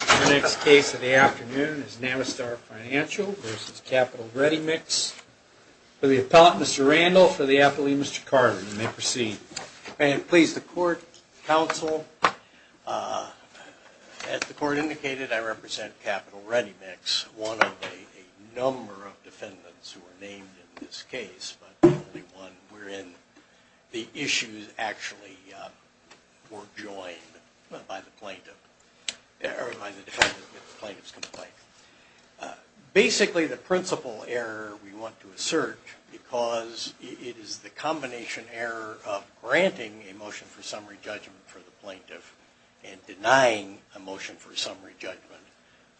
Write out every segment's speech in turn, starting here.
The next case of the afternoon is Navistar Financial v. Capitol Ready Mix for the appellant, Mr. Randall, for the appellee, Mr. Carter. You may proceed. And please, the court, counsel, as the court indicated, I represent Capitol Ready Mix, one of a number of defendants who are named in this case, but only one wherein the issues actually were joined by the defendant in the plaintiff's complaint. Basically, the principal error we want to assert, because it is the combination error of granting a motion for summary judgment for the plaintiff and denying a motion for summary judgment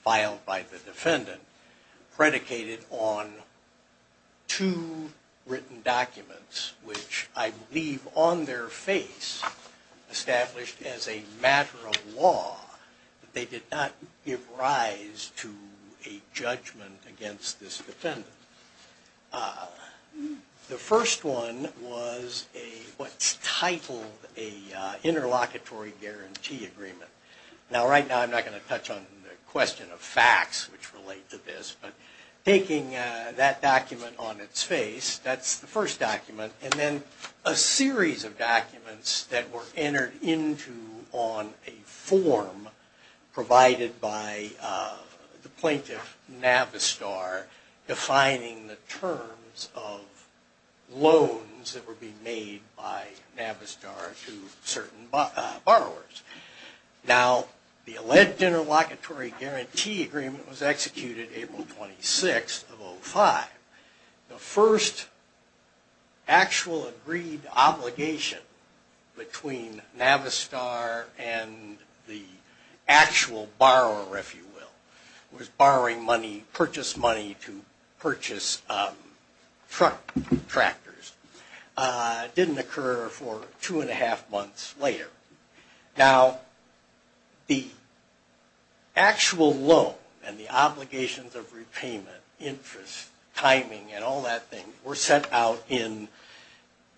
filed by the defendant, predicated on two written documents, which I believe on their face established as a matter of law that they did not give rise to a judgment against this defendant. The first one was what's titled an interlocutory guarantee agreement. Now, right now I'm not going to touch on the question of facts which relate to this, but taking that document on its face, that's the first document, and then a series of documents that were entered into on a form provided by the plaintiff, Navistar, defining the terms of loans that were being made by Navistar to certain borrowers. Now, the alleged interlocutory guarantee agreement was executed April 26th of 05. The first actual agreed obligation between Navistar and the actual borrower, if you will, was borrowing money, purchase money to purchase truck tractors. It didn't occur for two and a half months later. Now, the actual loan and the obligations of repayment, interest, timing, and all that thing were set out in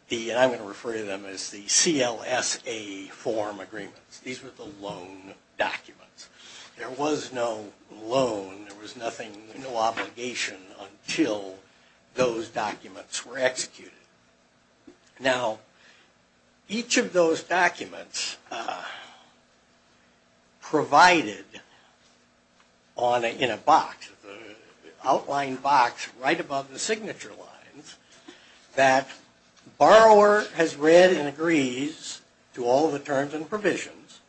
the, and I'm going to refer to them as the CLSA form agreements. These were the loan documents. There was no loan, there was nothing, no obligation until those documents were executed. Now, each of those documents provided in a box, an outline box right above the signature lines, that borrower has read and agrees to all the terms and provisions,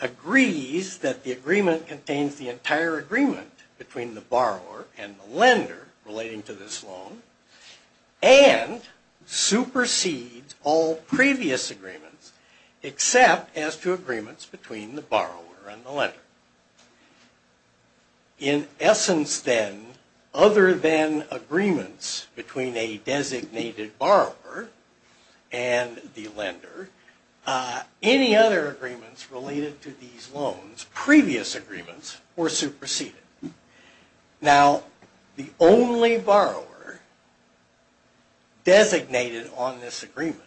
agrees that the agreement contains the entire agreement between the borrower and the lender relating to this loan, and supersedes all previous agreements except as to agreements between the borrower and the lender. In essence, then, other than agreements between a designated borrower and the lender, any other agreements related to these loans, previous agreements, were superseded. Now, the only borrower designated on this agreement,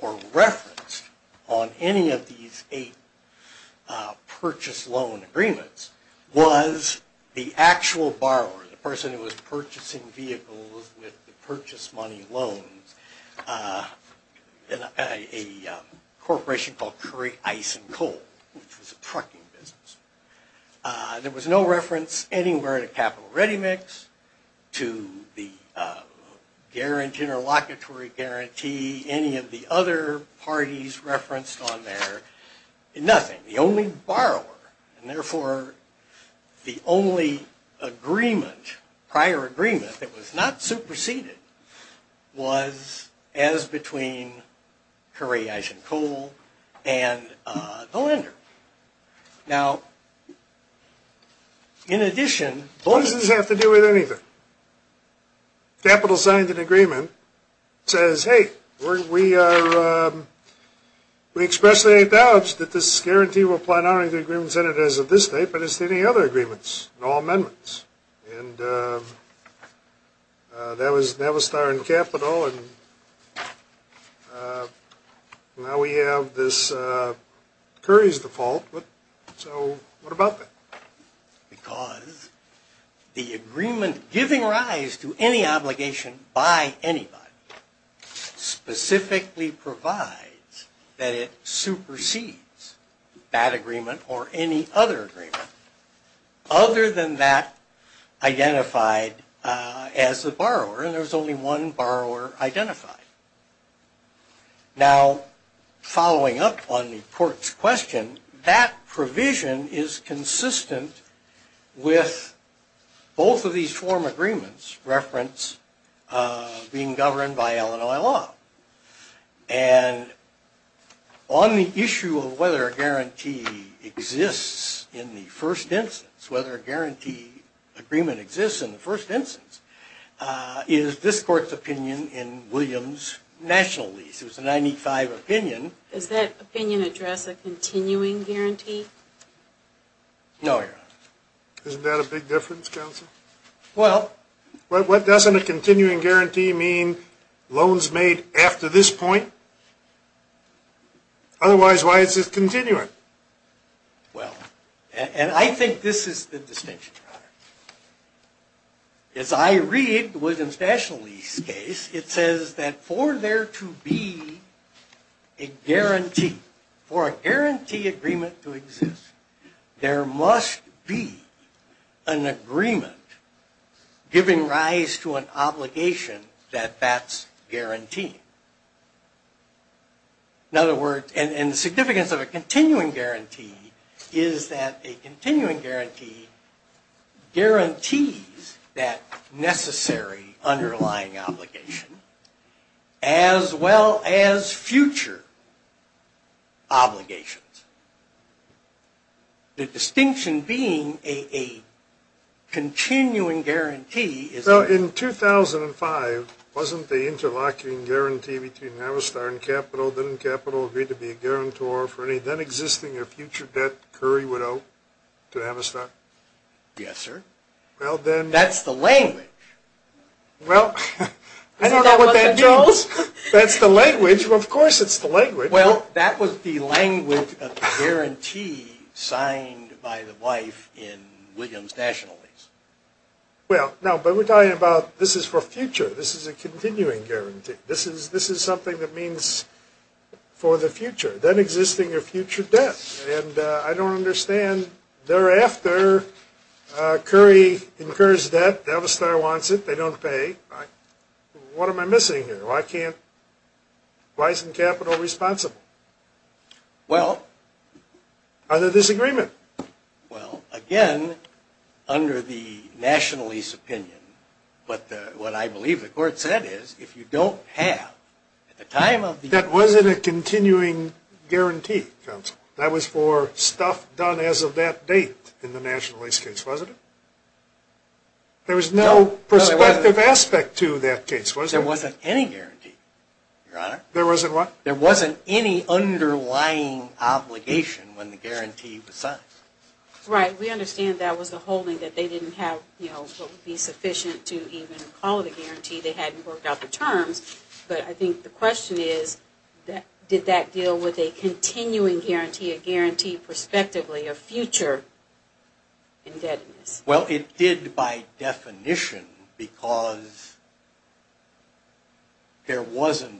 or referenced on any of these eight purchase loan agreements, was the actual borrower, the person who was purchasing vehicles with the purchase money loans, in a corporation called Curry Ice and Coal, which was a trucking business. There was no reference anywhere to Capital Ready Mix, to the Interlocutory Guarantee, any of the other parties referenced on there, nothing. The only borrower, and therefore the only agreement, prior agreement that was not superseded, was as between Curry Ice and Coal and the lender. Now, in addition... What does this have to do with anything? Capital signed an agreement that says, hey, we expressly acknowledge that this guarantee will apply not only to agreements entered as of this date, but as to any other agreements, all amendments. And that was Nevastar and Capital. Well, and now we have this Curry's default, so what about that? Because the agreement giving rise to any obligation by anybody, specifically provides that it supersedes that agreement or any other agreement. Other than that, identified as a borrower, and there was only one borrower identified. Now, following up on the court's question, that provision is consistent with both of these form agreements, reference being governed by Illinois law. And on the issue of whether a guarantee exists in the first instance, whether a guarantee agreement exists in the first instance, is this court's opinion in Williams' national lease. It was a 95 opinion. Does that opinion address a continuing guarantee? No, Your Honor. Isn't that a big difference, counsel? Well... What doesn't a continuing guarantee mean loans made after this point? Otherwise, why is this continuing? Well, and I think this is the distinction, Your Honor. As I read Williams' national lease case, it says that for there to be a guarantee, for a guarantee agreement to exist, there must be an agreement giving rise to an obligation that that's guaranteed. In other words, and the significance of a continuing guarantee is that a continuing guarantee guarantees that necessary underlying obligation as well as future obligations. The distinction being a continuing guarantee is... So in 2005, wasn't the interlocking guarantee between Avistar and Capital, agreed to be a guarantor for any then existing or future debt Curry would owe to Avistar? Yes, sir. Well, then... That's the language. Well, I don't know what that means. Isn't that what the judge... That's the language. Well, of course it's the language. Well, that was the language of the guarantee signed by the wife in Williams' national lease. Well, no, but we're talking about this is for future. This is a continuing guarantee. This is something that means for the future, then existing or future debt. And I don't understand. Thereafter, Curry incurs debt. Avistar wants it. They don't pay. What am I missing here? Why isn't Capital responsible? Well... Are they in disagreement? Well, again, under the national lease opinion, what I believe the court said is if you don't have... That wasn't a continuing guarantee, counsel. That was for stuff done as of that date in the national lease case, wasn't it? There was no perspective aspect to that case, was there? There wasn't any guarantee, your honor. There wasn't what? There wasn't any underlying obligation when the guarantee was signed. Right. We understand that was the holding that they didn't have, you know, what would be sufficient to even call it a guarantee. They hadn't worked out the terms. But I think the question is did that deal with a continuing guarantee, a guarantee prospectively of future indebtedness? Well, it did by definition because there wasn't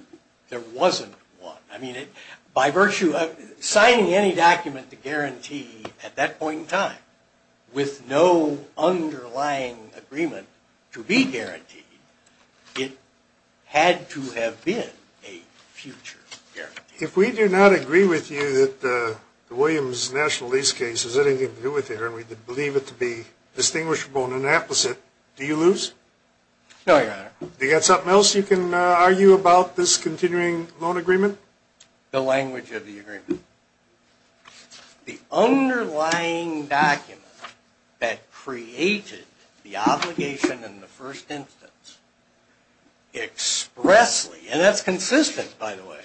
one. By virtue of signing any document to guarantee at that point in time with no underlying agreement to be guaranteed, it had to have been a future guarantee. If we do not agree with you that the Williams national lease case has anything to do with it, and we believe it to be distinguishable and inapplicable, do you lose? No, your honor. Do you have something else you can argue about this continuing loan agreement? The language of the agreement. The underlying document that created the obligation in the first instance expressly, and that's consistent, by the way,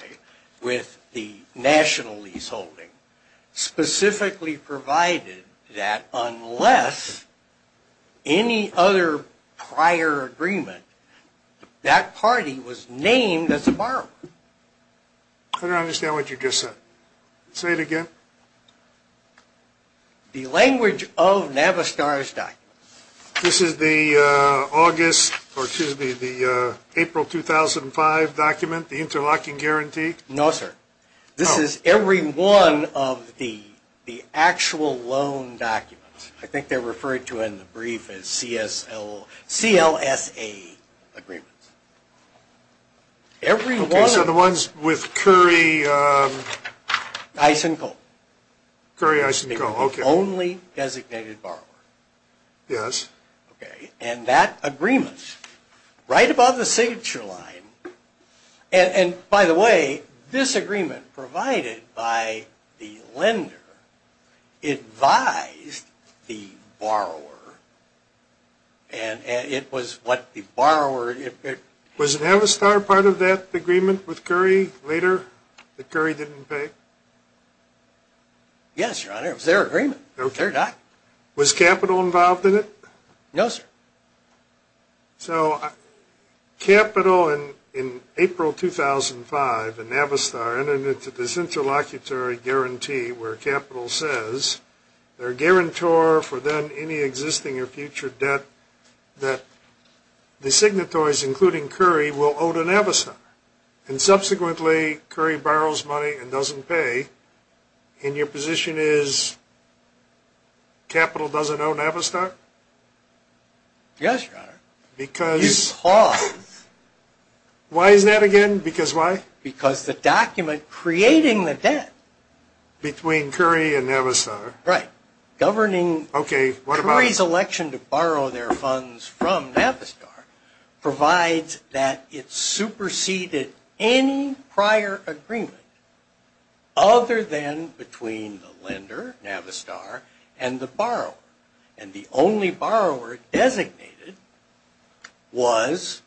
with the national lease holding, specifically provided that unless any other prior agreement, that party was named as a borrower. I don't understand what you just said. Say it again. The language of Navistar's document. This is the August, or excuse me, the April 2005 document, the interlocking guarantee? No, sir. This is every one of the actual loan documents. I think they're referred to in the brief as CLSA agreements. Okay, so the ones with Curry? Eisencolt. Curry-Eisencolt, okay. The only designated borrower. Yes. Okay, and that agreement, right above the signature line, and by the way, this agreement provided by the lender advised the borrower, and it was what the borrower. Was Navistar part of that agreement with Curry later that Curry didn't pay? Yes, Your Honor, it was their agreement. Was capital involved in it? No, sir. So capital in April 2005, and Navistar entered into this interlocutory guarantee where capital says they're a guarantor for then any existing or future debt that the signatories, including Curry, will owe to Navistar. And subsequently, Curry borrows money and doesn't pay, and your position is capital doesn't owe Navistar? Yes, Your Honor. Because? You pause. Why is that again? Because why? Because the document creating the debt. Between Curry and Navistar. Right. Governing Curry's election to borrow their funds from Navistar provides that it superseded any prior agreement other than between the lender, Navistar, and the borrower. And the only borrower designated was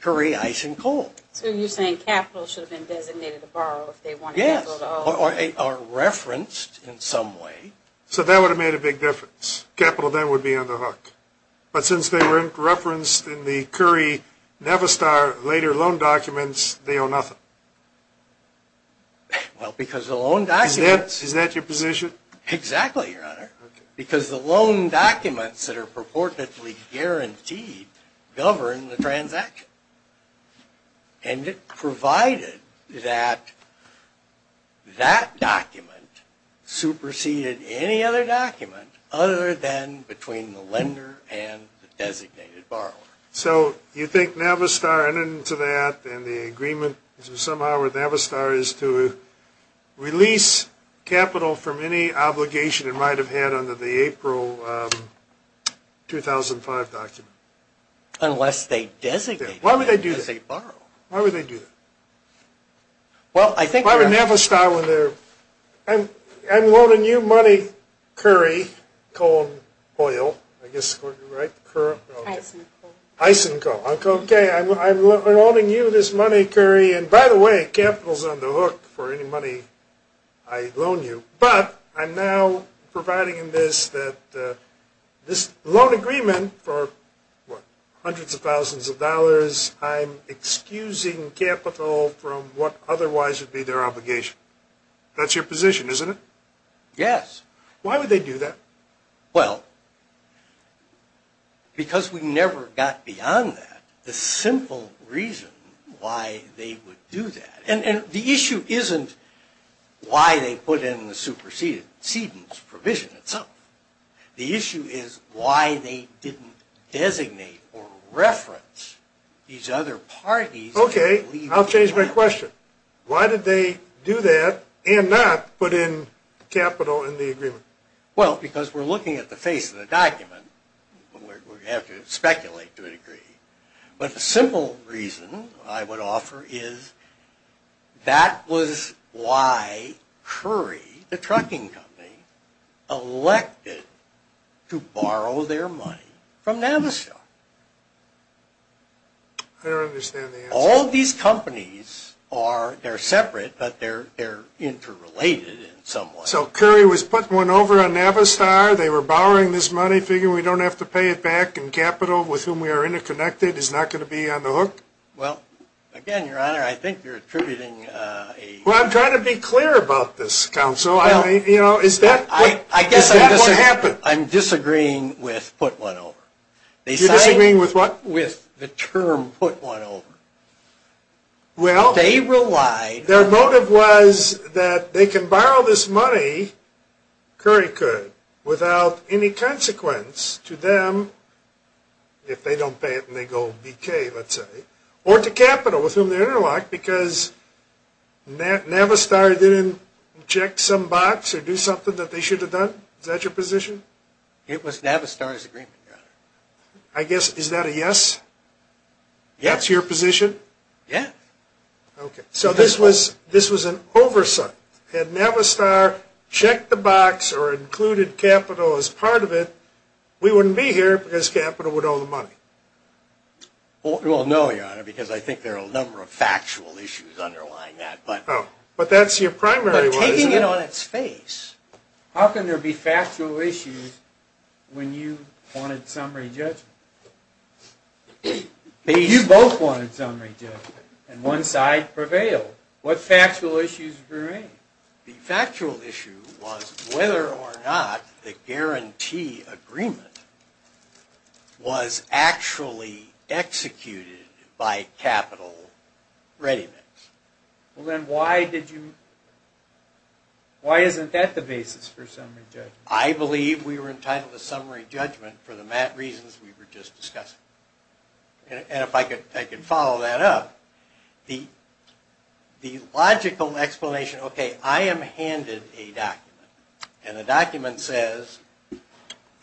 Curry Ice and Coal. So you're saying capital should have been designated to borrow if they wanted to borrow? Yes, or referenced in some way. So that would have made a big difference. Capital then would be on the hook. But since they were referenced in the Curry-Navistar later loan documents, they owe nothing. Well, because the loan documents. Is that your position? Exactly, Your Honor. Because the loan documents that are purportedly guaranteed govern the transaction. And it provided that that document superseded any other document other than between the lender and the designated borrower. So you think Navistar entered into that, then the agreement is somehow with Navistar is to release capital from any obligation it might have had under the April 2005 document? Unless they designated it. Why would they do that? Because they borrowed. Why would they do that? Well, I think. Why would Navistar, when they're... I'm loaning you money, Curry, Coal, Oil, I guess, right? Ice and Coal. Ice and Coal. Okay, I'm loaning you this money, Curry. And, by the way, capital's on the hook for any money I loan you. But I'm now providing in this that this loan agreement for, what, hundreds of thousands of dollars, I'm excusing capital from what otherwise would be their obligation. That's your position, isn't it? Yes. Why would they do that? Well, because we never got beyond that. The simple reason why they would do that. And the issue isn't why they put in the supersedence provision itself. The issue is why they didn't designate or reference these other parties... Okay, I'll change my question. Why did they do that and not put in capital in the agreement? Well, because we're looking at the face of the document. We have to speculate to a degree. But the simple reason I would offer is that was why Curry, the trucking company, elected to borrow their money from Navistar. I don't understand the answer. All these companies are separate, but they're interrelated in some way. So Curry was putting one over on Navistar, they were borrowing this money, figuring we don't have to pay it back, and capital with whom we are interconnected is not going to be on the hook? Well, again, Your Honor, I think you're attributing a... Well, I'm trying to be clear about this, Counsel. Is that what happened? I'm disagreeing with put one over. You're disagreeing with what? With the term put one over. Well... They relied... Their motive was that they can borrow this money, Curry could, without any consequence to them if they don't pay it and they go BK, let's say, or to capital with whom they're interlocked because Navistar didn't check some box or do something that they should have done? Is that your position? It was Navistar's agreement, Your Honor. I guess, is that a yes? Yes. That's your position? Yes. Okay. So this was an oversight. Had Navistar checked the box or included capital as part of it, we wouldn't be here because capital would owe the money. Well, no, Your Honor, because I think there are a number of factual issues underlying that, but... But that's your primary one, isn't it? But taking it on its face, how can there be factual issues when you wanted summary judgment? You both wanted summary judgment and one side prevailed. What factual issues remain? The factual issue was whether or not the guarantee agreement was actually executed by capital readyments. Well, then why did you... why isn't that the basis for summary judgment? I believe we were entitled to summary judgment for the reasons we were just discussing. And if I could follow that up, the logical explanation, okay, I am handed a document and the document says,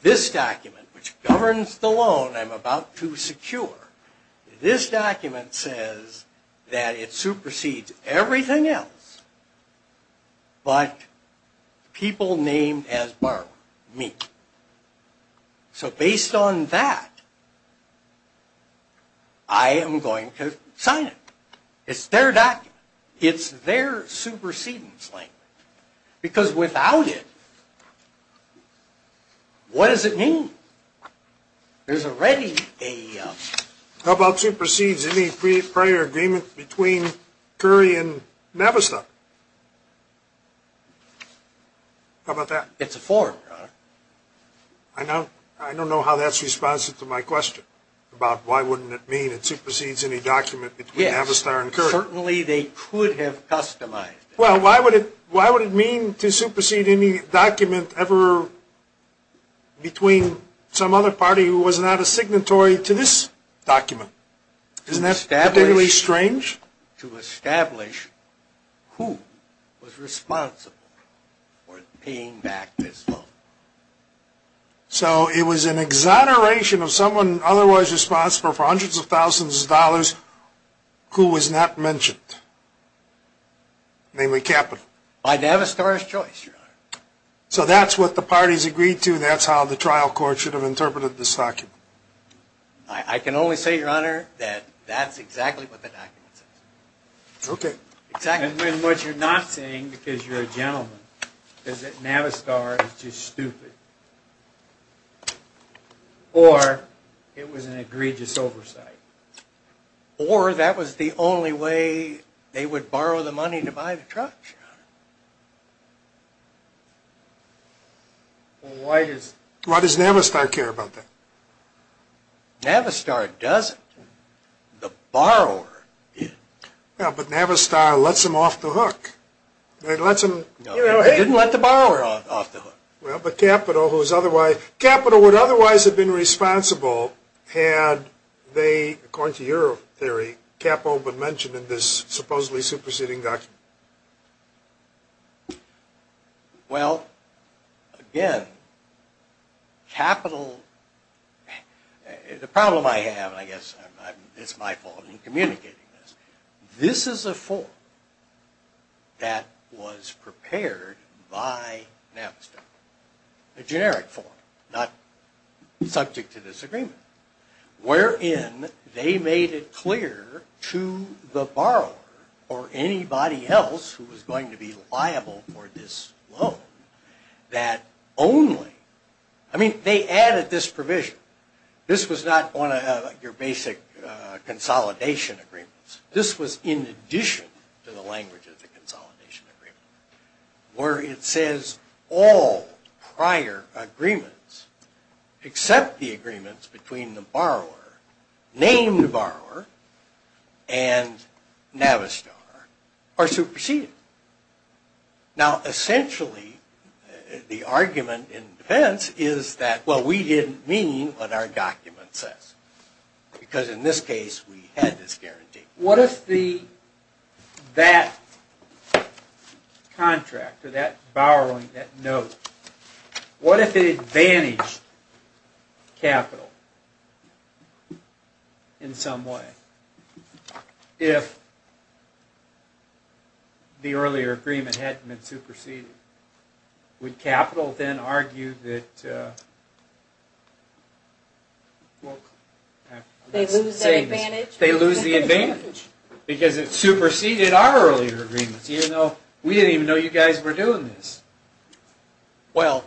this document, which governs the loan I'm about to secure, this document says that it supersedes everything else but people named as borrower, me. So based on that, I am going to sign it. It's their document. It's their supersedence language. Because without it, what does it mean? There's already a... How about supersedes any prior agreement between Curry and Navistar? How about that? It's a form, Your Honor. I don't know how that's responsive to my question about why wouldn't it mean it supersedes any document between Navistar and Curry. Yes, certainly they could have customized it. Well, why would it mean to supersede any document ever between some other party who was not a signatory to this document? Isn't that particularly strange? To establish who was responsible for paying back this loan. So it was an exoneration of someone otherwise responsible for hundreds of thousands of dollars who was not mentioned, namely capital. By Navistar's choice, Your Honor. So that's what the parties agreed to. That's how the trial court should have interpreted this document. I can only say, Your Honor, that that's exactly what the document says. Okay. And what you're not saying, because you're a gentleman, is that Navistar is just stupid. Or it was an egregious oversight. Or that was the only way they would borrow the money to buy the truck, Your Honor. Well, why does Navistar care about that? Navistar doesn't. The borrower did. Well, but Navistar lets them off the hook. They didn't let the borrower off the hook. Well, but capital would otherwise have been responsible had they, according to your theory, capital been mentioned in this supposedly superseding document. Well, again, capital... The problem I have, and I guess it's my fault in communicating this, this is a form that was prepared by Navistar. A generic form, not subject to this agreement, wherein they made it clear to the borrower, or anybody else who was going to be liable for this loan, that only... I mean, they added this provision. This was not one of your basic consolidation agreements. This was in addition to the language of the consolidation agreement, where it says all prior agreements, except the agreements between the borrower, named borrower, and Navistar, are superseded. Now, essentially, the argument in defense is that, well, we didn't mean what our document says. Because in this case, we had this guarantee. What if that contract, or that borrowing, that note, what if it advantaged capital in some way, if the earlier agreement hadn't been superseded? Would capital then argue that... They lose the advantage. Because it superseded our earlier agreements. We didn't even know you guys were doing this. Well,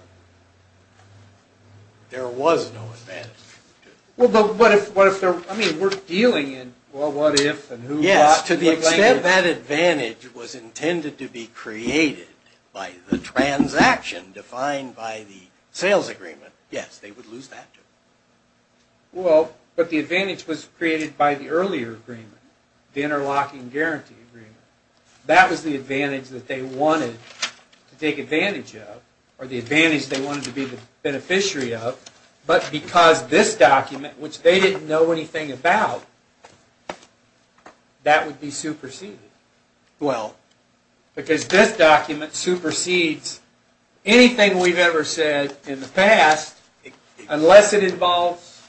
there was no advantage. Well, but what if... I mean, we're dealing in, well, what if, and who not. To the extent that advantage was intended to be created by the transaction defined by the sales agreement, yes, they would lose that too. Well, but the advantage was created by the earlier agreement, the interlocking guarantee agreement. That was the advantage that they wanted to take advantage of, or the advantage they wanted to be the beneficiary of. But because this document, which they didn't know anything about, that would be superseded. Well... Because this document supersedes anything we've ever said in the past, unless it involves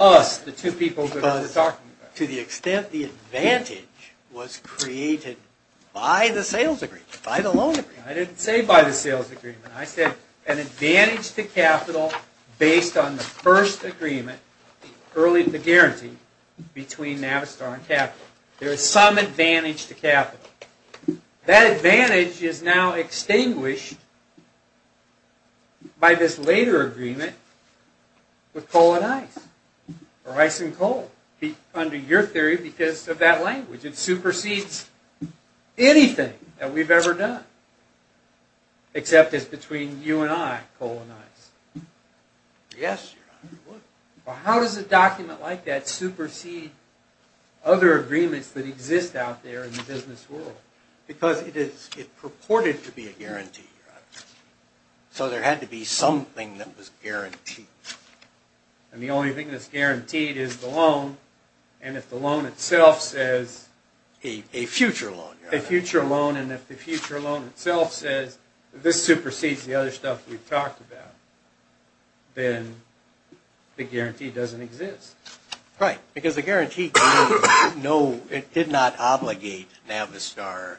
us, the two people we're talking about. To the extent the advantage was created by the sales agreement, by the loan agreement. I didn't say by the sales agreement. I said an advantage to capital based on the first agreement, the guarantee between Navistar and capital. There is some advantage to capital. That advantage is now extinguished by this later agreement with coal and ice, or ice and coal, under your theory, because of that language. It supersedes anything that we've ever done, Yes. Well, how does a document like that supersede other agreements that exist out there in the business world? Because it purported to be a guarantee. So there had to be something that was guaranteed. And the only thing that's guaranteed is the loan, and if the loan itself says... A future loan. A future loan, and if the future loan itself says, this supersedes the other stuff we've talked about, then the guarantee doesn't exist. Right. Because the guarantee did not obligate Navistar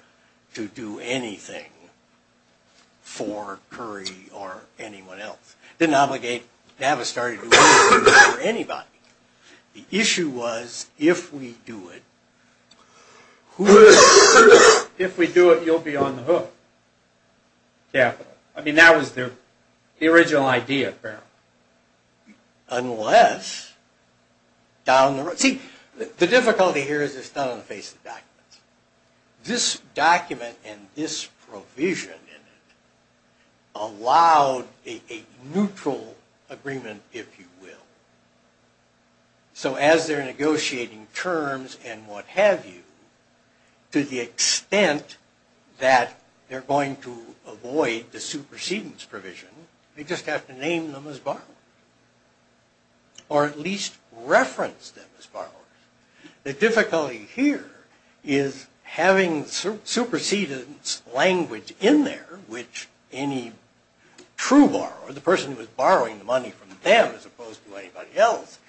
to do anything for Curry or anyone else. It didn't obligate Navistar to do anything for anybody. The issue was, if we do it... If we do it, you'll be on the hook. Capital. I mean, that was the original idea, apparently. Unless, down the road... See, the difficulty here is it's done in the face of documents. This document and this provision in it allowed a neutral agreement, if you will. So as they're negotiating terms and what have you, to the extent that they're going to avoid the supersedence provision, they just have to name them as borrowers. Or at least reference them as borrowers. The difficulty here is having supersedence language in there, which any true borrower, the person who was borrowing the money from them as opposed to anybody else,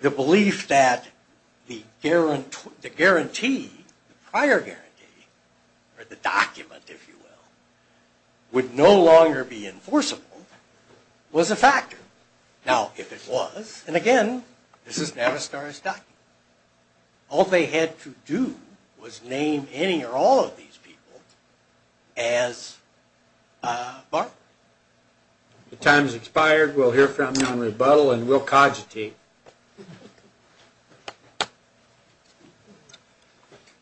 the belief that the guarantee, the prior guarantee, or the document, if you will, would no longer be enforceable was a factor. Now, if it was, and again, this is Navistar's document, all they had to do was name any or all of these people as borrowers. The time has expired. We'll hear from you on rebuttal, and we'll cogitate.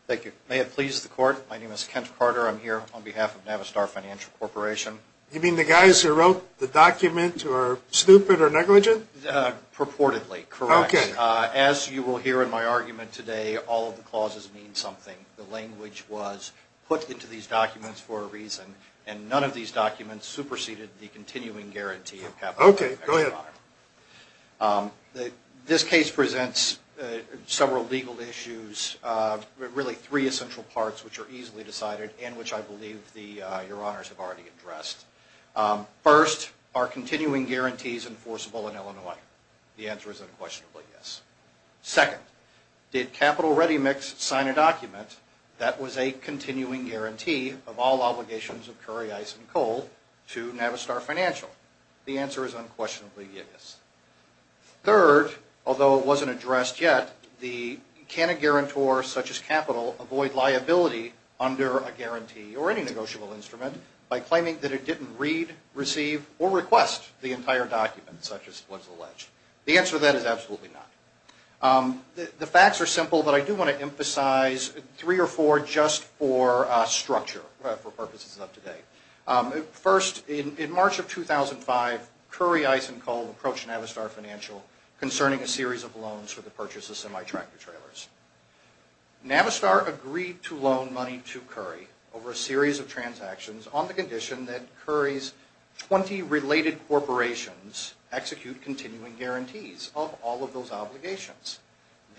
Thank you. May it please the Court, my name is Kent Carter. I'm here on behalf of Navistar Financial Corporation. You mean the guys who wrote the document who are stupid or negligent? Purportedly, correct. As you will hear in my argument today, all of the clauses mean something. The language was put into these documents for a reason, and none of these documents superseded the continuing guarantee of capital. Okay, go ahead. This case presents several legal issues, really three essential parts which are easily decided and which I believe your honors have already addressed. First, are continuing guarantees enforceable in Illinois? The answer is unquestionably yes. Second, did Capital Ready Mix sign a document that was a continuing guarantee of all obligations of curry, ice, and coal to Navistar Financial? The answer is unquestionably yes. Third, although it wasn't addressed yet, can a guarantor such as Capital avoid liability under a guarantee or any negotiable instrument by claiming that it didn't read, receive, or request the entire document such as was alleged? The answer to that is absolutely not. The facts are simple, but I do want to emphasize three or four just for structure, for purposes of today. First, in March of 2005, curry, ice, and coal approached Navistar Financial concerning a series of loans for the purchase of semi-tractor trailers. Navistar agreed to loan money to curry over a series of transactions on the condition that curry's 20 related corporations execute continuing guarantees of all of those obligations.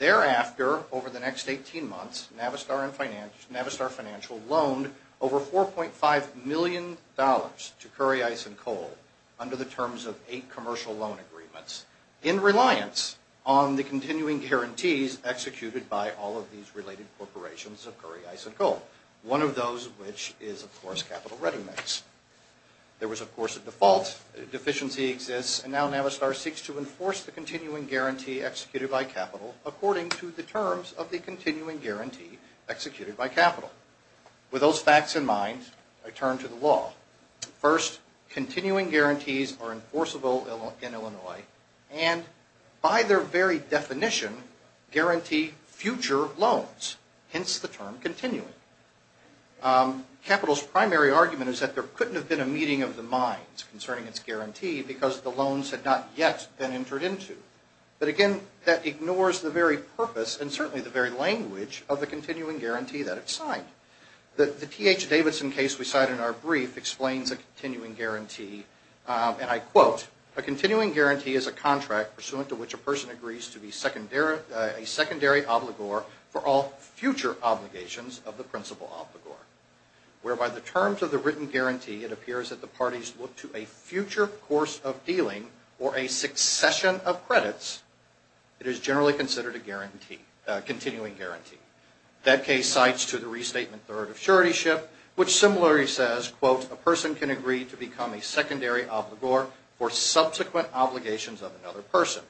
Thereafter, over the next 18 months, Navistar Financial loaned over $4.5 million to curry, ice, and coal under the terms of eight commercial loan agreements in reliance on the continuing guarantees executed by all of these related corporations of curry, ice, and coal, one of those of which is, of course, Capital Reading Mix. There was, of course, a default, a deficiency exists, and now Navistar seeks to enforce the continuing guarantee executed by Capital according to the terms of the continuing guarantee executed by Capital. With those facts in mind, I turn to the law. First, continuing guarantees are enforceable in Illinois, and by their very definition guarantee future loans, hence the term continuing. Capital's primary argument is that there couldn't have been a meeting of the minds concerning its guarantee because the loans had not yet been entered into. But, again, that ignores the very purpose and certainly the very language of the continuing guarantee that it signed. The T.H. Davidson case we cite in our brief explains a continuing guarantee, and I quote, A continuing guarantee is a contract pursuant to which a person agrees to be a secondary obligor for all future obligations of the principal obligor. Whereby the terms of the written guarantee, it appears that the parties look to a future course of dealing or a succession of credits, it is generally considered a guarantee, a continuing guarantee. That case cites to the restatement third of suretyship, which similarly says, quote, A person can agree to become a secondary obligor for subsequent obligations of another person.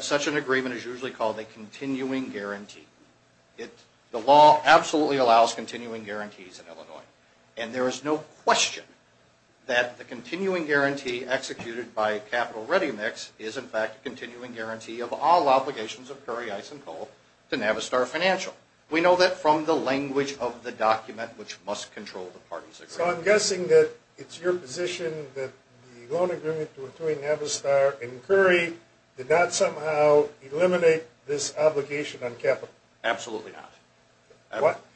Such an agreement is usually called a continuing guarantee. The law absolutely allows continuing guarantees in Illinois, and there is no question that the continuing guarantee executed by Capital Ready Mix is, in fact, a continuing guarantee of all obligations of Curry, Ice, and Cole to Navistar Financial. We know that from the language of the document which must control the parties' agreement. So I'm guessing that it's your position that the loan agreement between Navistar and Curry did not somehow eliminate this obligation on Capital? Absolutely not.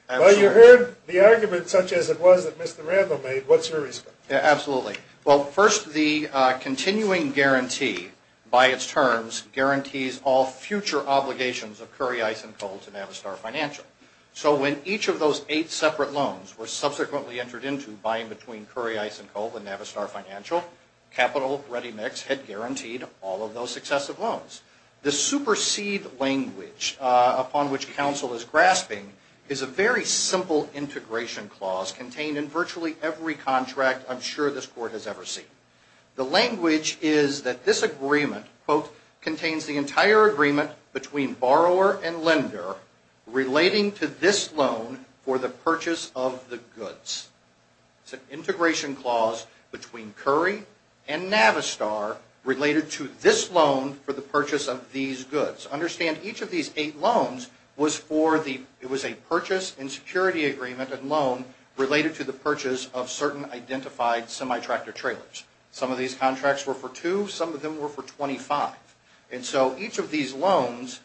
Well, you heard the argument such as it was that Mr. Randall made. What's your response? Yeah, absolutely. Well, first, the continuing guarantee, by its terms, guarantees all future obligations of Curry, Ice, and Cole to Navistar Financial. So when each of those eight separate loans were subsequently entered into, buying between Curry, Ice, and Cole and Navistar Financial, Capital Ready Mix had guaranteed all of those successive loans. The supersede language upon which counsel is grasping is a very simple integration clause contained in virtually every contract I'm sure this Court has ever seen. The language is that this agreement, quote, contains the entire agreement between borrower and lender relating to this loan for the purchase of the goods. It's an integration clause between Curry and Navistar related to this loan for the purchase of these goods. Understand each of these eight loans was a purchase and security agreement and loan related to the purchase of certain identified semi-tractor trailers. Some of these contracts were for two, some of them were for 25. And so each of these loans,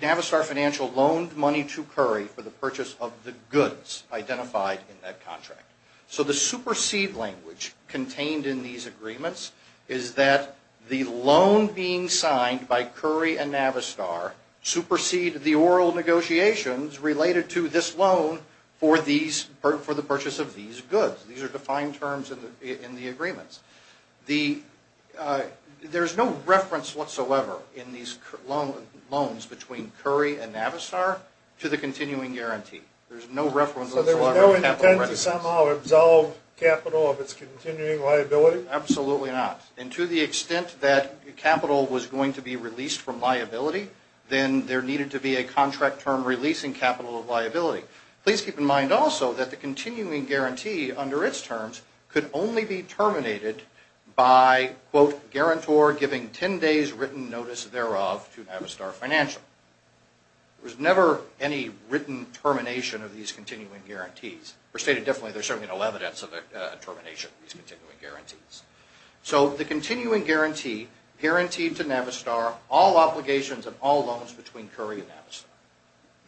Navistar Financial loaned money to Curry for the purchase of the goods identified in that contract. So the supersede language contained in these agreements is that the loan being signed by Curry and Navistar supersede the oral negotiations related to this loan for the purchase of these goods. These are defined terms in the agreements. There's no reference whatsoever in these loans between Curry and Navistar to the continuing guarantee. There's no reference whatsoever. So there's no intent to somehow absolve Capital of its continuing liability? Absolutely not. And to the extent that capital was going to be released from liability, then there needed to be a contract term releasing capital of liability. Please keep in mind also that the continuing guarantee under its terms could only be terminated by, quote, guarantor giving 10 days written notice thereof to Navistar Financial. There was never any written termination of these continuing guarantees. Or stated differently, there's certainly no evidence of a termination of these continuing guarantees. So the continuing guarantee guaranteed to Navistar all obligations of all loans between Curry and Navistar.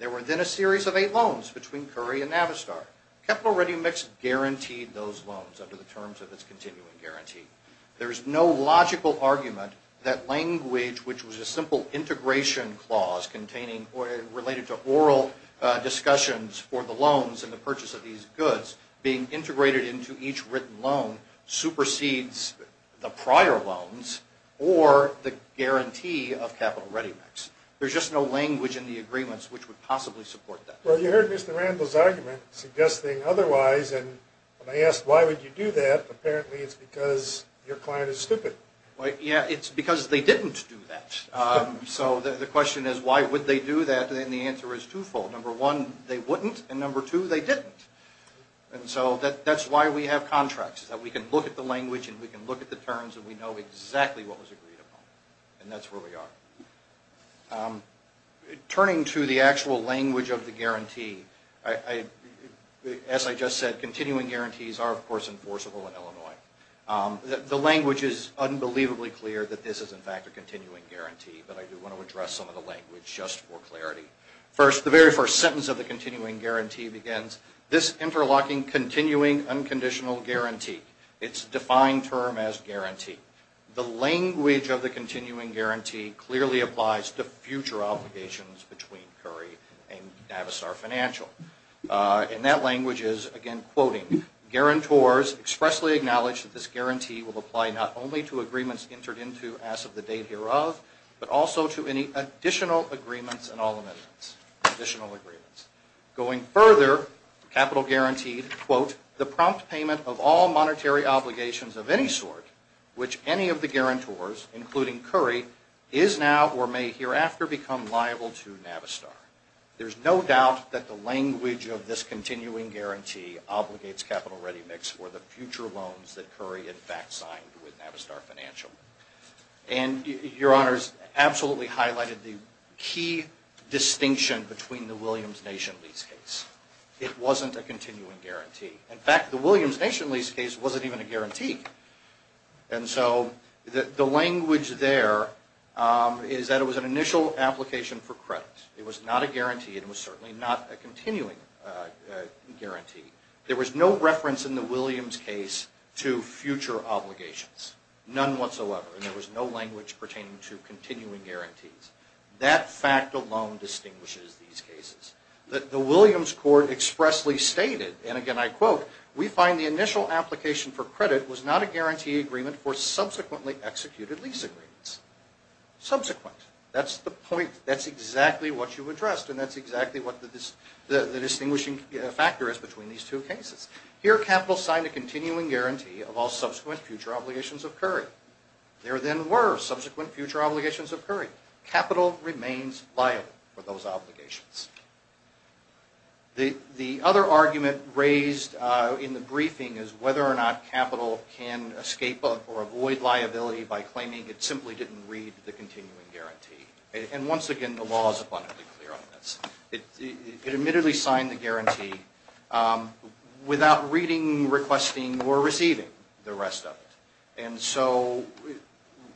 There were then a series of eight loans between Curry and Navistar. Capital Ready Mix guaranteed those loans under the terms of its continuing guarantee. There is no logical argument that language, which was a simple integration clause containing related to oral discussions for the loans and the purchase of these goods, being integrated into each written loan supersedes the prior loans or the guarantee of Capital Ready Mix. There's just no language in the agreements which would possibly support that. Well, you heard Mr. Randall's argument suggesting otherwise. And when I asked why would you do that, apparently it's because your client is stupid. Yeah, it's because they didn't do that. So the question is why would they do that? And the answer is twofold. Number one, they wouldn't. And number two, they didn't. And so that's why we have contracts is that we can look at the language and we can look at the terms and we know exactly what was agreed upon. And that's where we are. Turning to the actual language of the guarantee, as I just said, continuing guarantees are, of course, enforceable in Illinois. The language is unbelievably clear that this is, in fact, a continuing guarantee. But I do want to address some of the language just for clarity. First, the very first sentence of the continuing guarantee begins, this interlocking continuing unconditional guarantee. It's a defined term as guarantee. The language of the continuing guarantee clearly applies to future obligations between Curry and Navisar Financial. And that language is, again, quoting, guarantors expressly acknowledge that this guarantee will apply not only to agreements entered into but also to any additional agreements and all amendments, additional agreements. Going further, capital guaranteed, quote, the prompt payment of all monetary obligations of any sort, which any of the guarantors, including Curry, is now or may hereafter become liable to Navisar. There's no doubt that the language of this continuing guarantee obligates Capital Ready Mix for the future loans that Curry, in fact, signed with Navisar Financial. And Your Honors absolutely highlighted the key distinction between the Williams Nation lease case. It wasn't a continuing guarantee. In fact, the Williams Nation lease case wasn't even a guarantee. And so the language there is that it was an initial application for credit. It was not a guarantee. It was certainly not a continuing guarantee. There was no reference in the Williams case to future obligations. None whatsoever. And there was no language pertaining to continuing guarantees. That fact alone distinguishes these cases. The Williams court expressly stated, and again I quote, we find the initial application for credit was not a guarantee agreement for subsequently executed lease agreements. Subsequent. That's the point. That's exactly what you addressed. And that's exactly what the distinguishing factor is between these two cases. Here Capital signed a continuing guarantee of all subsequent future obligations of Curry. There then were subsequent future obligations of Curry. Capital remains liable for those obligations. The other argument raised in the briefing is whether or not Capital can escape or avoid liability by claiming it simply didn't read the continuing guarantee. And once again, the law is abundantly clear on this. It admittedly signed the guarantee without reading, requesting, or receiving the rest of it. And so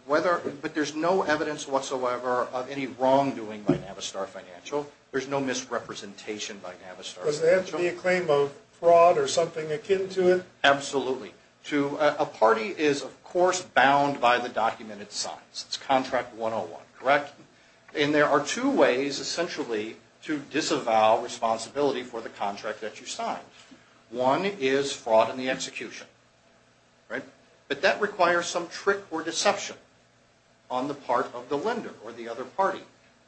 whether, but there's no evidence whatsoever of any wrongdoing by Navistar Financial. There's no misrepresentation by Navistar Financial. Does it have to be a claim of fraud or something akin to it? Absolutely. A party is, of course, bound by the documented science. It's contract 101, correct? And there are two ways essentially to disavow responsibility for the contract that you signed. One is fraud in the execution, right? But that requires some trick or deception on the part of the lender or the other party.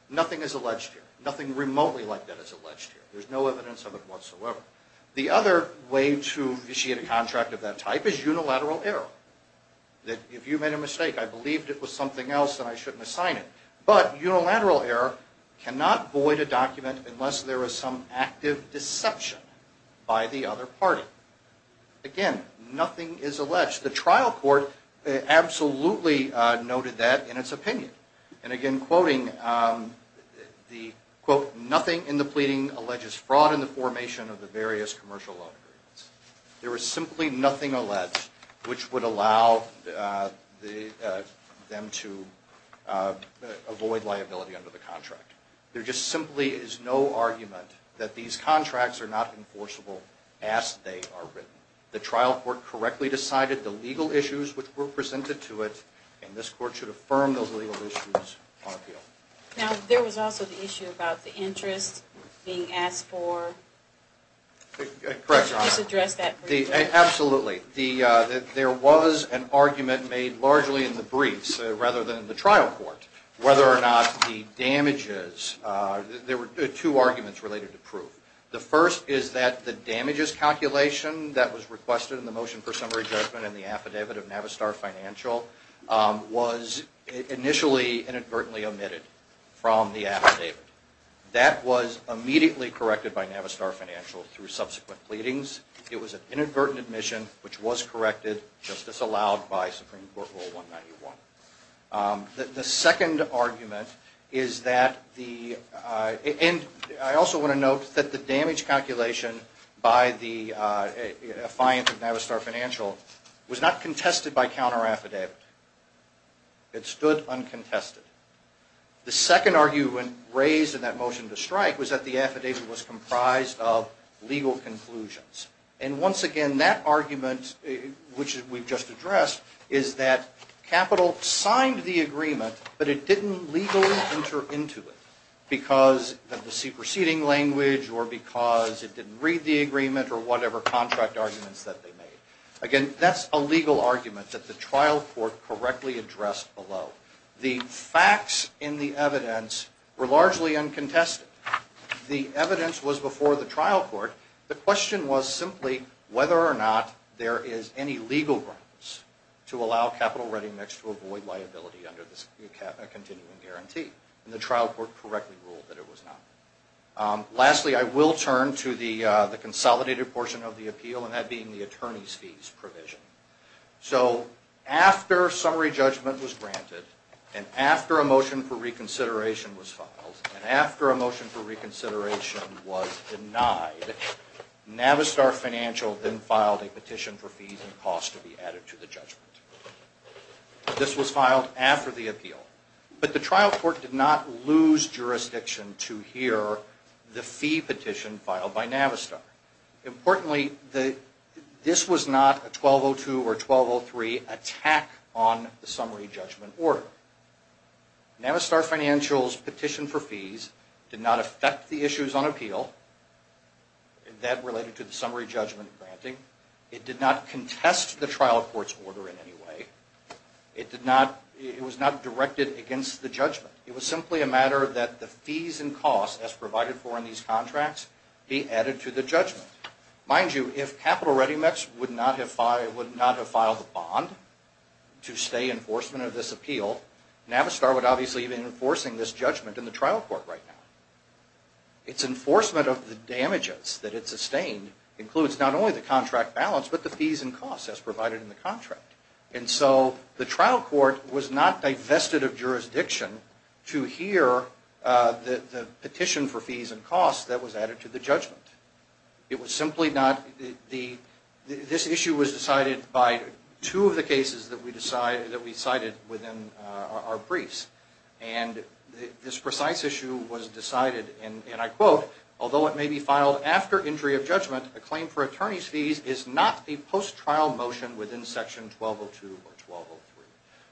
Nothing is alleged here. Nothing remotely like that is alleged here. There's no evidence of it whatsoever. The other way to initiate a contract of that type is unilateral error. If you made a mistake, I believed it was something else and I shouldn't have signed it. But unilateral error cannot void a document unless there is some active deception by the other party. Again, nothing is alleged. The trial court absolutely noted that in its opinion. And again, quoting the, quote, nothing in the pleading alleges fraud in the formation of the various commercial loan agreements. There is simply nothing alleged which would allow them to avoid liability under the contract. There just simply is no argument that these contracts are not enforceable as they are written. The trial court correctly decided the legal issues which were presented to it, and this court should affirm those legal issues on appeal. Now, there was also the issue about the interest being asked for. Correct, Your Honor. Just address that briefly. Absolutely. There was an argument made largely in the briefs rather than the trial court whether or not the damages, there were two arguments related to proof. The first is that the damages calculation that was requested in the motion for summary judgment in the affidavit of Navistar Financial was initially inadvertently omitted from the affidavit. That was immediately corrected by Navistar Financial through subsequent pleadings. It was an inadvertent admission which was corrected, just as allowed by Supreme Court Rule 191. The second argument is that the, and I also want to note that the damage calculation by the affiant of Navistar Financial was not contested by counter affidavit. It stood uncontested. The second argument raised in that motion to strike was that the affidavit was comprised of legal conclusions. And once again, that argument, which we've just addressed, is that capital signed the agreement, but it didn't legally enter into it because of the superseding language or because it didn't read the agreement or whatever contract arguments that they made. Again, that's a legal argument that the trial court correctly addressed below. The facts in the evidence were largely uncontested. The evidence was before the trial court. The question was simply whether or not there is any legal grounds to allow capital ready mix to avoid liability under the continuing guarantee. And the trial court correctly ruled that it was not. Lastly, I will turn to the consolidated portion of the appeal, and that being the attorney's fees provision. So, after summary judgment was granted, and after a motion for reconsideration was filed, and after a motion for reconsideration was denied, Navistar Financial then filed a petition for fees and costs to be added to the judgment. This was filed after the appeal. But the trial court did not lose jurisdiction to hear the fee petition filed by Navistar. Importantly, this was not a 1202 or 1203 attack on the summary judgment order. Navistar Financial's petition for fees did not affect the issues on appeal that related to the summary judgment granting. It did not contest the trial court's order in any way. It was not directed against the judgment. It was simply a matter that the fees and costs as provided for in these contracts be added to the judgment. Mind you, if Capital Readymex would not have filed a bond to stay in enforcement of this appeal, Navistar would obviously be enforcing this judgment in the trial court right now. Its enforcement of the damages that it sustained includes not only the contract balance, but the fees and costs as provided in the contract. And so, the trial court was not divested of jurisdiction to hear the petition for fees and costs that was added to the judgment. This issue was decided by two of the cases that we cited within our briefs. And this precise issue was decided, and I quote, although it may be filed after injury of judgment, a claim for attorney's fees is not a post-trial motion within section 1202 or 1203.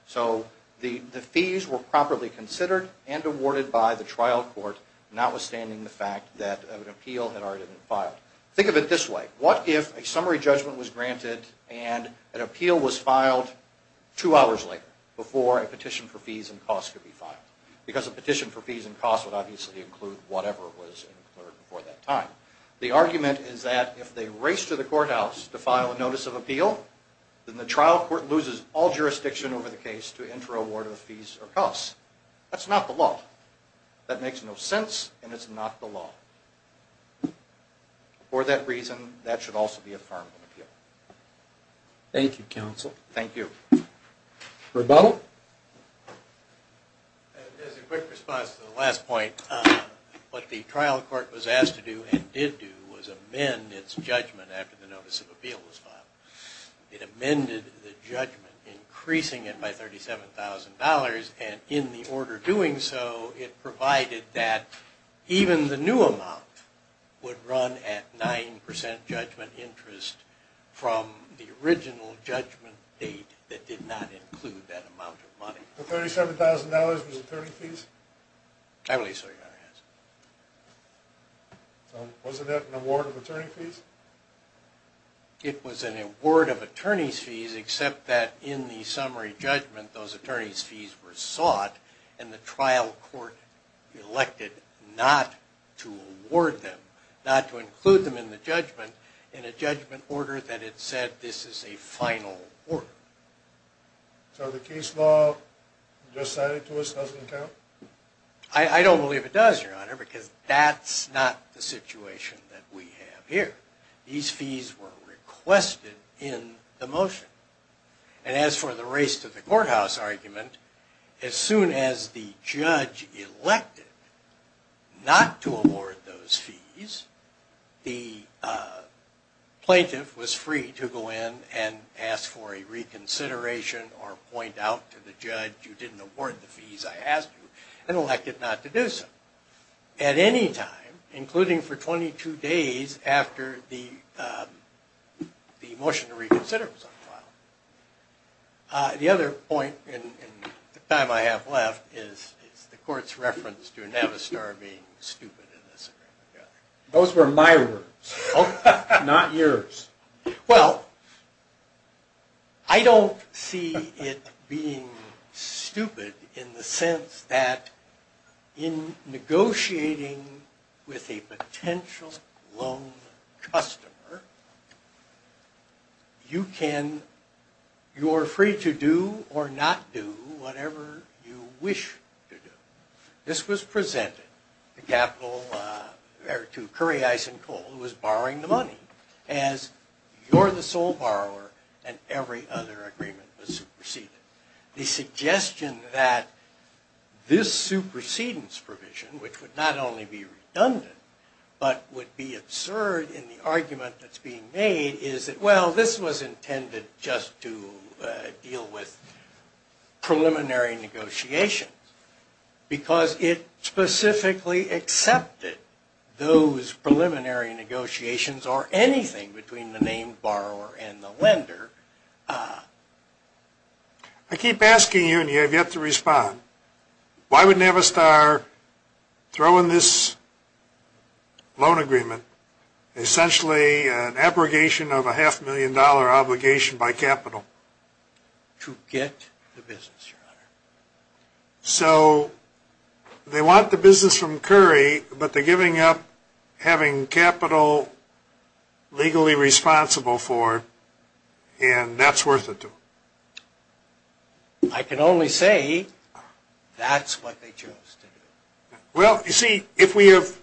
So, the fees were properly considered and awarded by the trial court, notwithstanding the fact that an appeal had already been filed. Think of it this way. What if a summary judgment was granted and an appeal was filed two hours later, before a petition for fees and costs could be filed? Because a petition for fees and costs would obviously include whatever was included before that time. The argument is that if they race to the courthouse to file a notice of appeal, then the trial court loses all jurisdiction over the case to enter a ward of fees or costs. That's not the law. That makes no sense, and it's not the law. For that reason, that should also be a form of appeal. Thank you, counsel. Thank you. Rebuttal? As a quick response to the last point, what the trial court was asked to do and did do was amend its judgment after the notice of appeal was filed. It amended the judgment, increasing it by $37,000, and in the order doing so, it provided that even the new amount would run at 9% judgment interest from the original judgment date that did not include that amount of money. The $37,000 was attorney fees? I believe so, Your Honor. Wasn't that an award of attorney fees? It was an award of attorney fees, except that in the summary judgment, those attorney fees were sought and the trial court elected not to award them, not to include them in the judgment, in a judgment order that it said this is a final order. So the case law just cited to us doesn't count? I don't believe it does, Your Honor, because that's not the situation that we have here. These fees were requested in the motion. And as for the race to the courthouse argument, as soon as the judge elected not to award those fees, the plaintiff was free to go in and ask for a reconsideration or point out to the judge you didn't award the fees, I asked you, and elected not to do so. At any time, including for 22 days after the motion to reconsider was unfiled. The other point in the time I have left is the court's reference to Navistar being stupid. Those were my words, not yours. Well, I don't see it being stupid in the sense that in negotiating with a potential lone customer, you can, you're free to do or not do whatever you wish to do. This was presented to Currie, Eisen, Cole, who was borrowing the money, as you're the sole borrower and every other agreement was superseded. The suggestion that this supersedence provision, which would not only be redundant, but would be absurd in the argument that's being made is that, well, this was intended just to deal with preliminary negotiations, because it specifically accepted those preliminary negotiations or anything between the named borrower and the lender. I keep asking you and you have yet to respond. Why would Navistar throw in this loan agreement, essentially an abrogation of a half million dollar obligation by capital? To get the business, Your Honor. So they want the business from Currie, but they're giving up having capital legally responsible for it, and that's worth it to them? I can only say that's what they chose to do. Well, you see, if we have,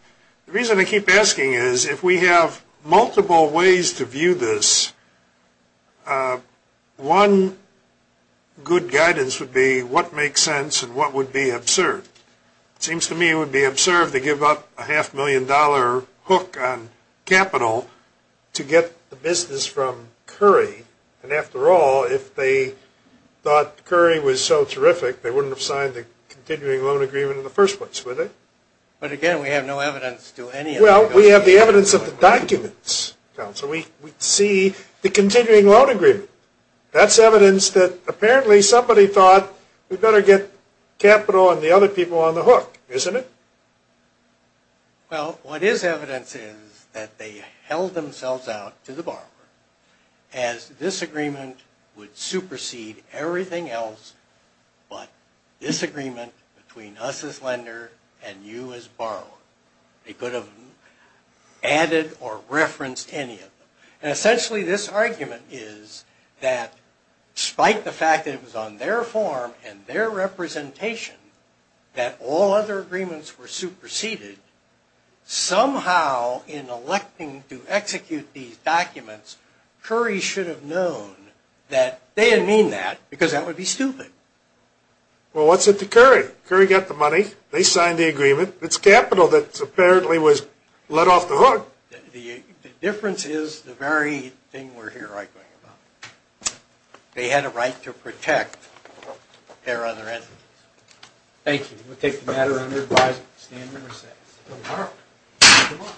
the reason I keep asking is if we have multiple ways to view this, one good guidance would be what makes sense and what would be absurd. It seems to me it would be absurd to give up a half million dollar hook on capital to get the business from Currie. And after all, if they thought Currie was so terrific, they wouldn't have signed the continuing loan agreement in the first place, would they? But again, we have no evidence to any of that. Well, we have the evidence of the documents, counsel. We see the continuing loan agreement. That's evidence that apparently somebody thought we'd better get capital and the other people on the hook, isn't it? Well, what is evidence is that they held themselves out to the borrower as this agreement would supersede everything else but this agreement between us as lender and you as borrower. They could have added or referenced any of them. And essentially this argument is that despite the fact that it was on their form and their representation that all other agreements were superseded, somehow in electing to execute these documents, Currie should have known that they didn't mean that because that would be stupid. Well, what's it to Currie? Currie got the money. They signed the agreement. It's capital that apparently was let off the hook. The difference is the very thing we're here arguing about. They had a right to protect their other entities. Thank you. We'll take the matter under advisement. Stand when you're set.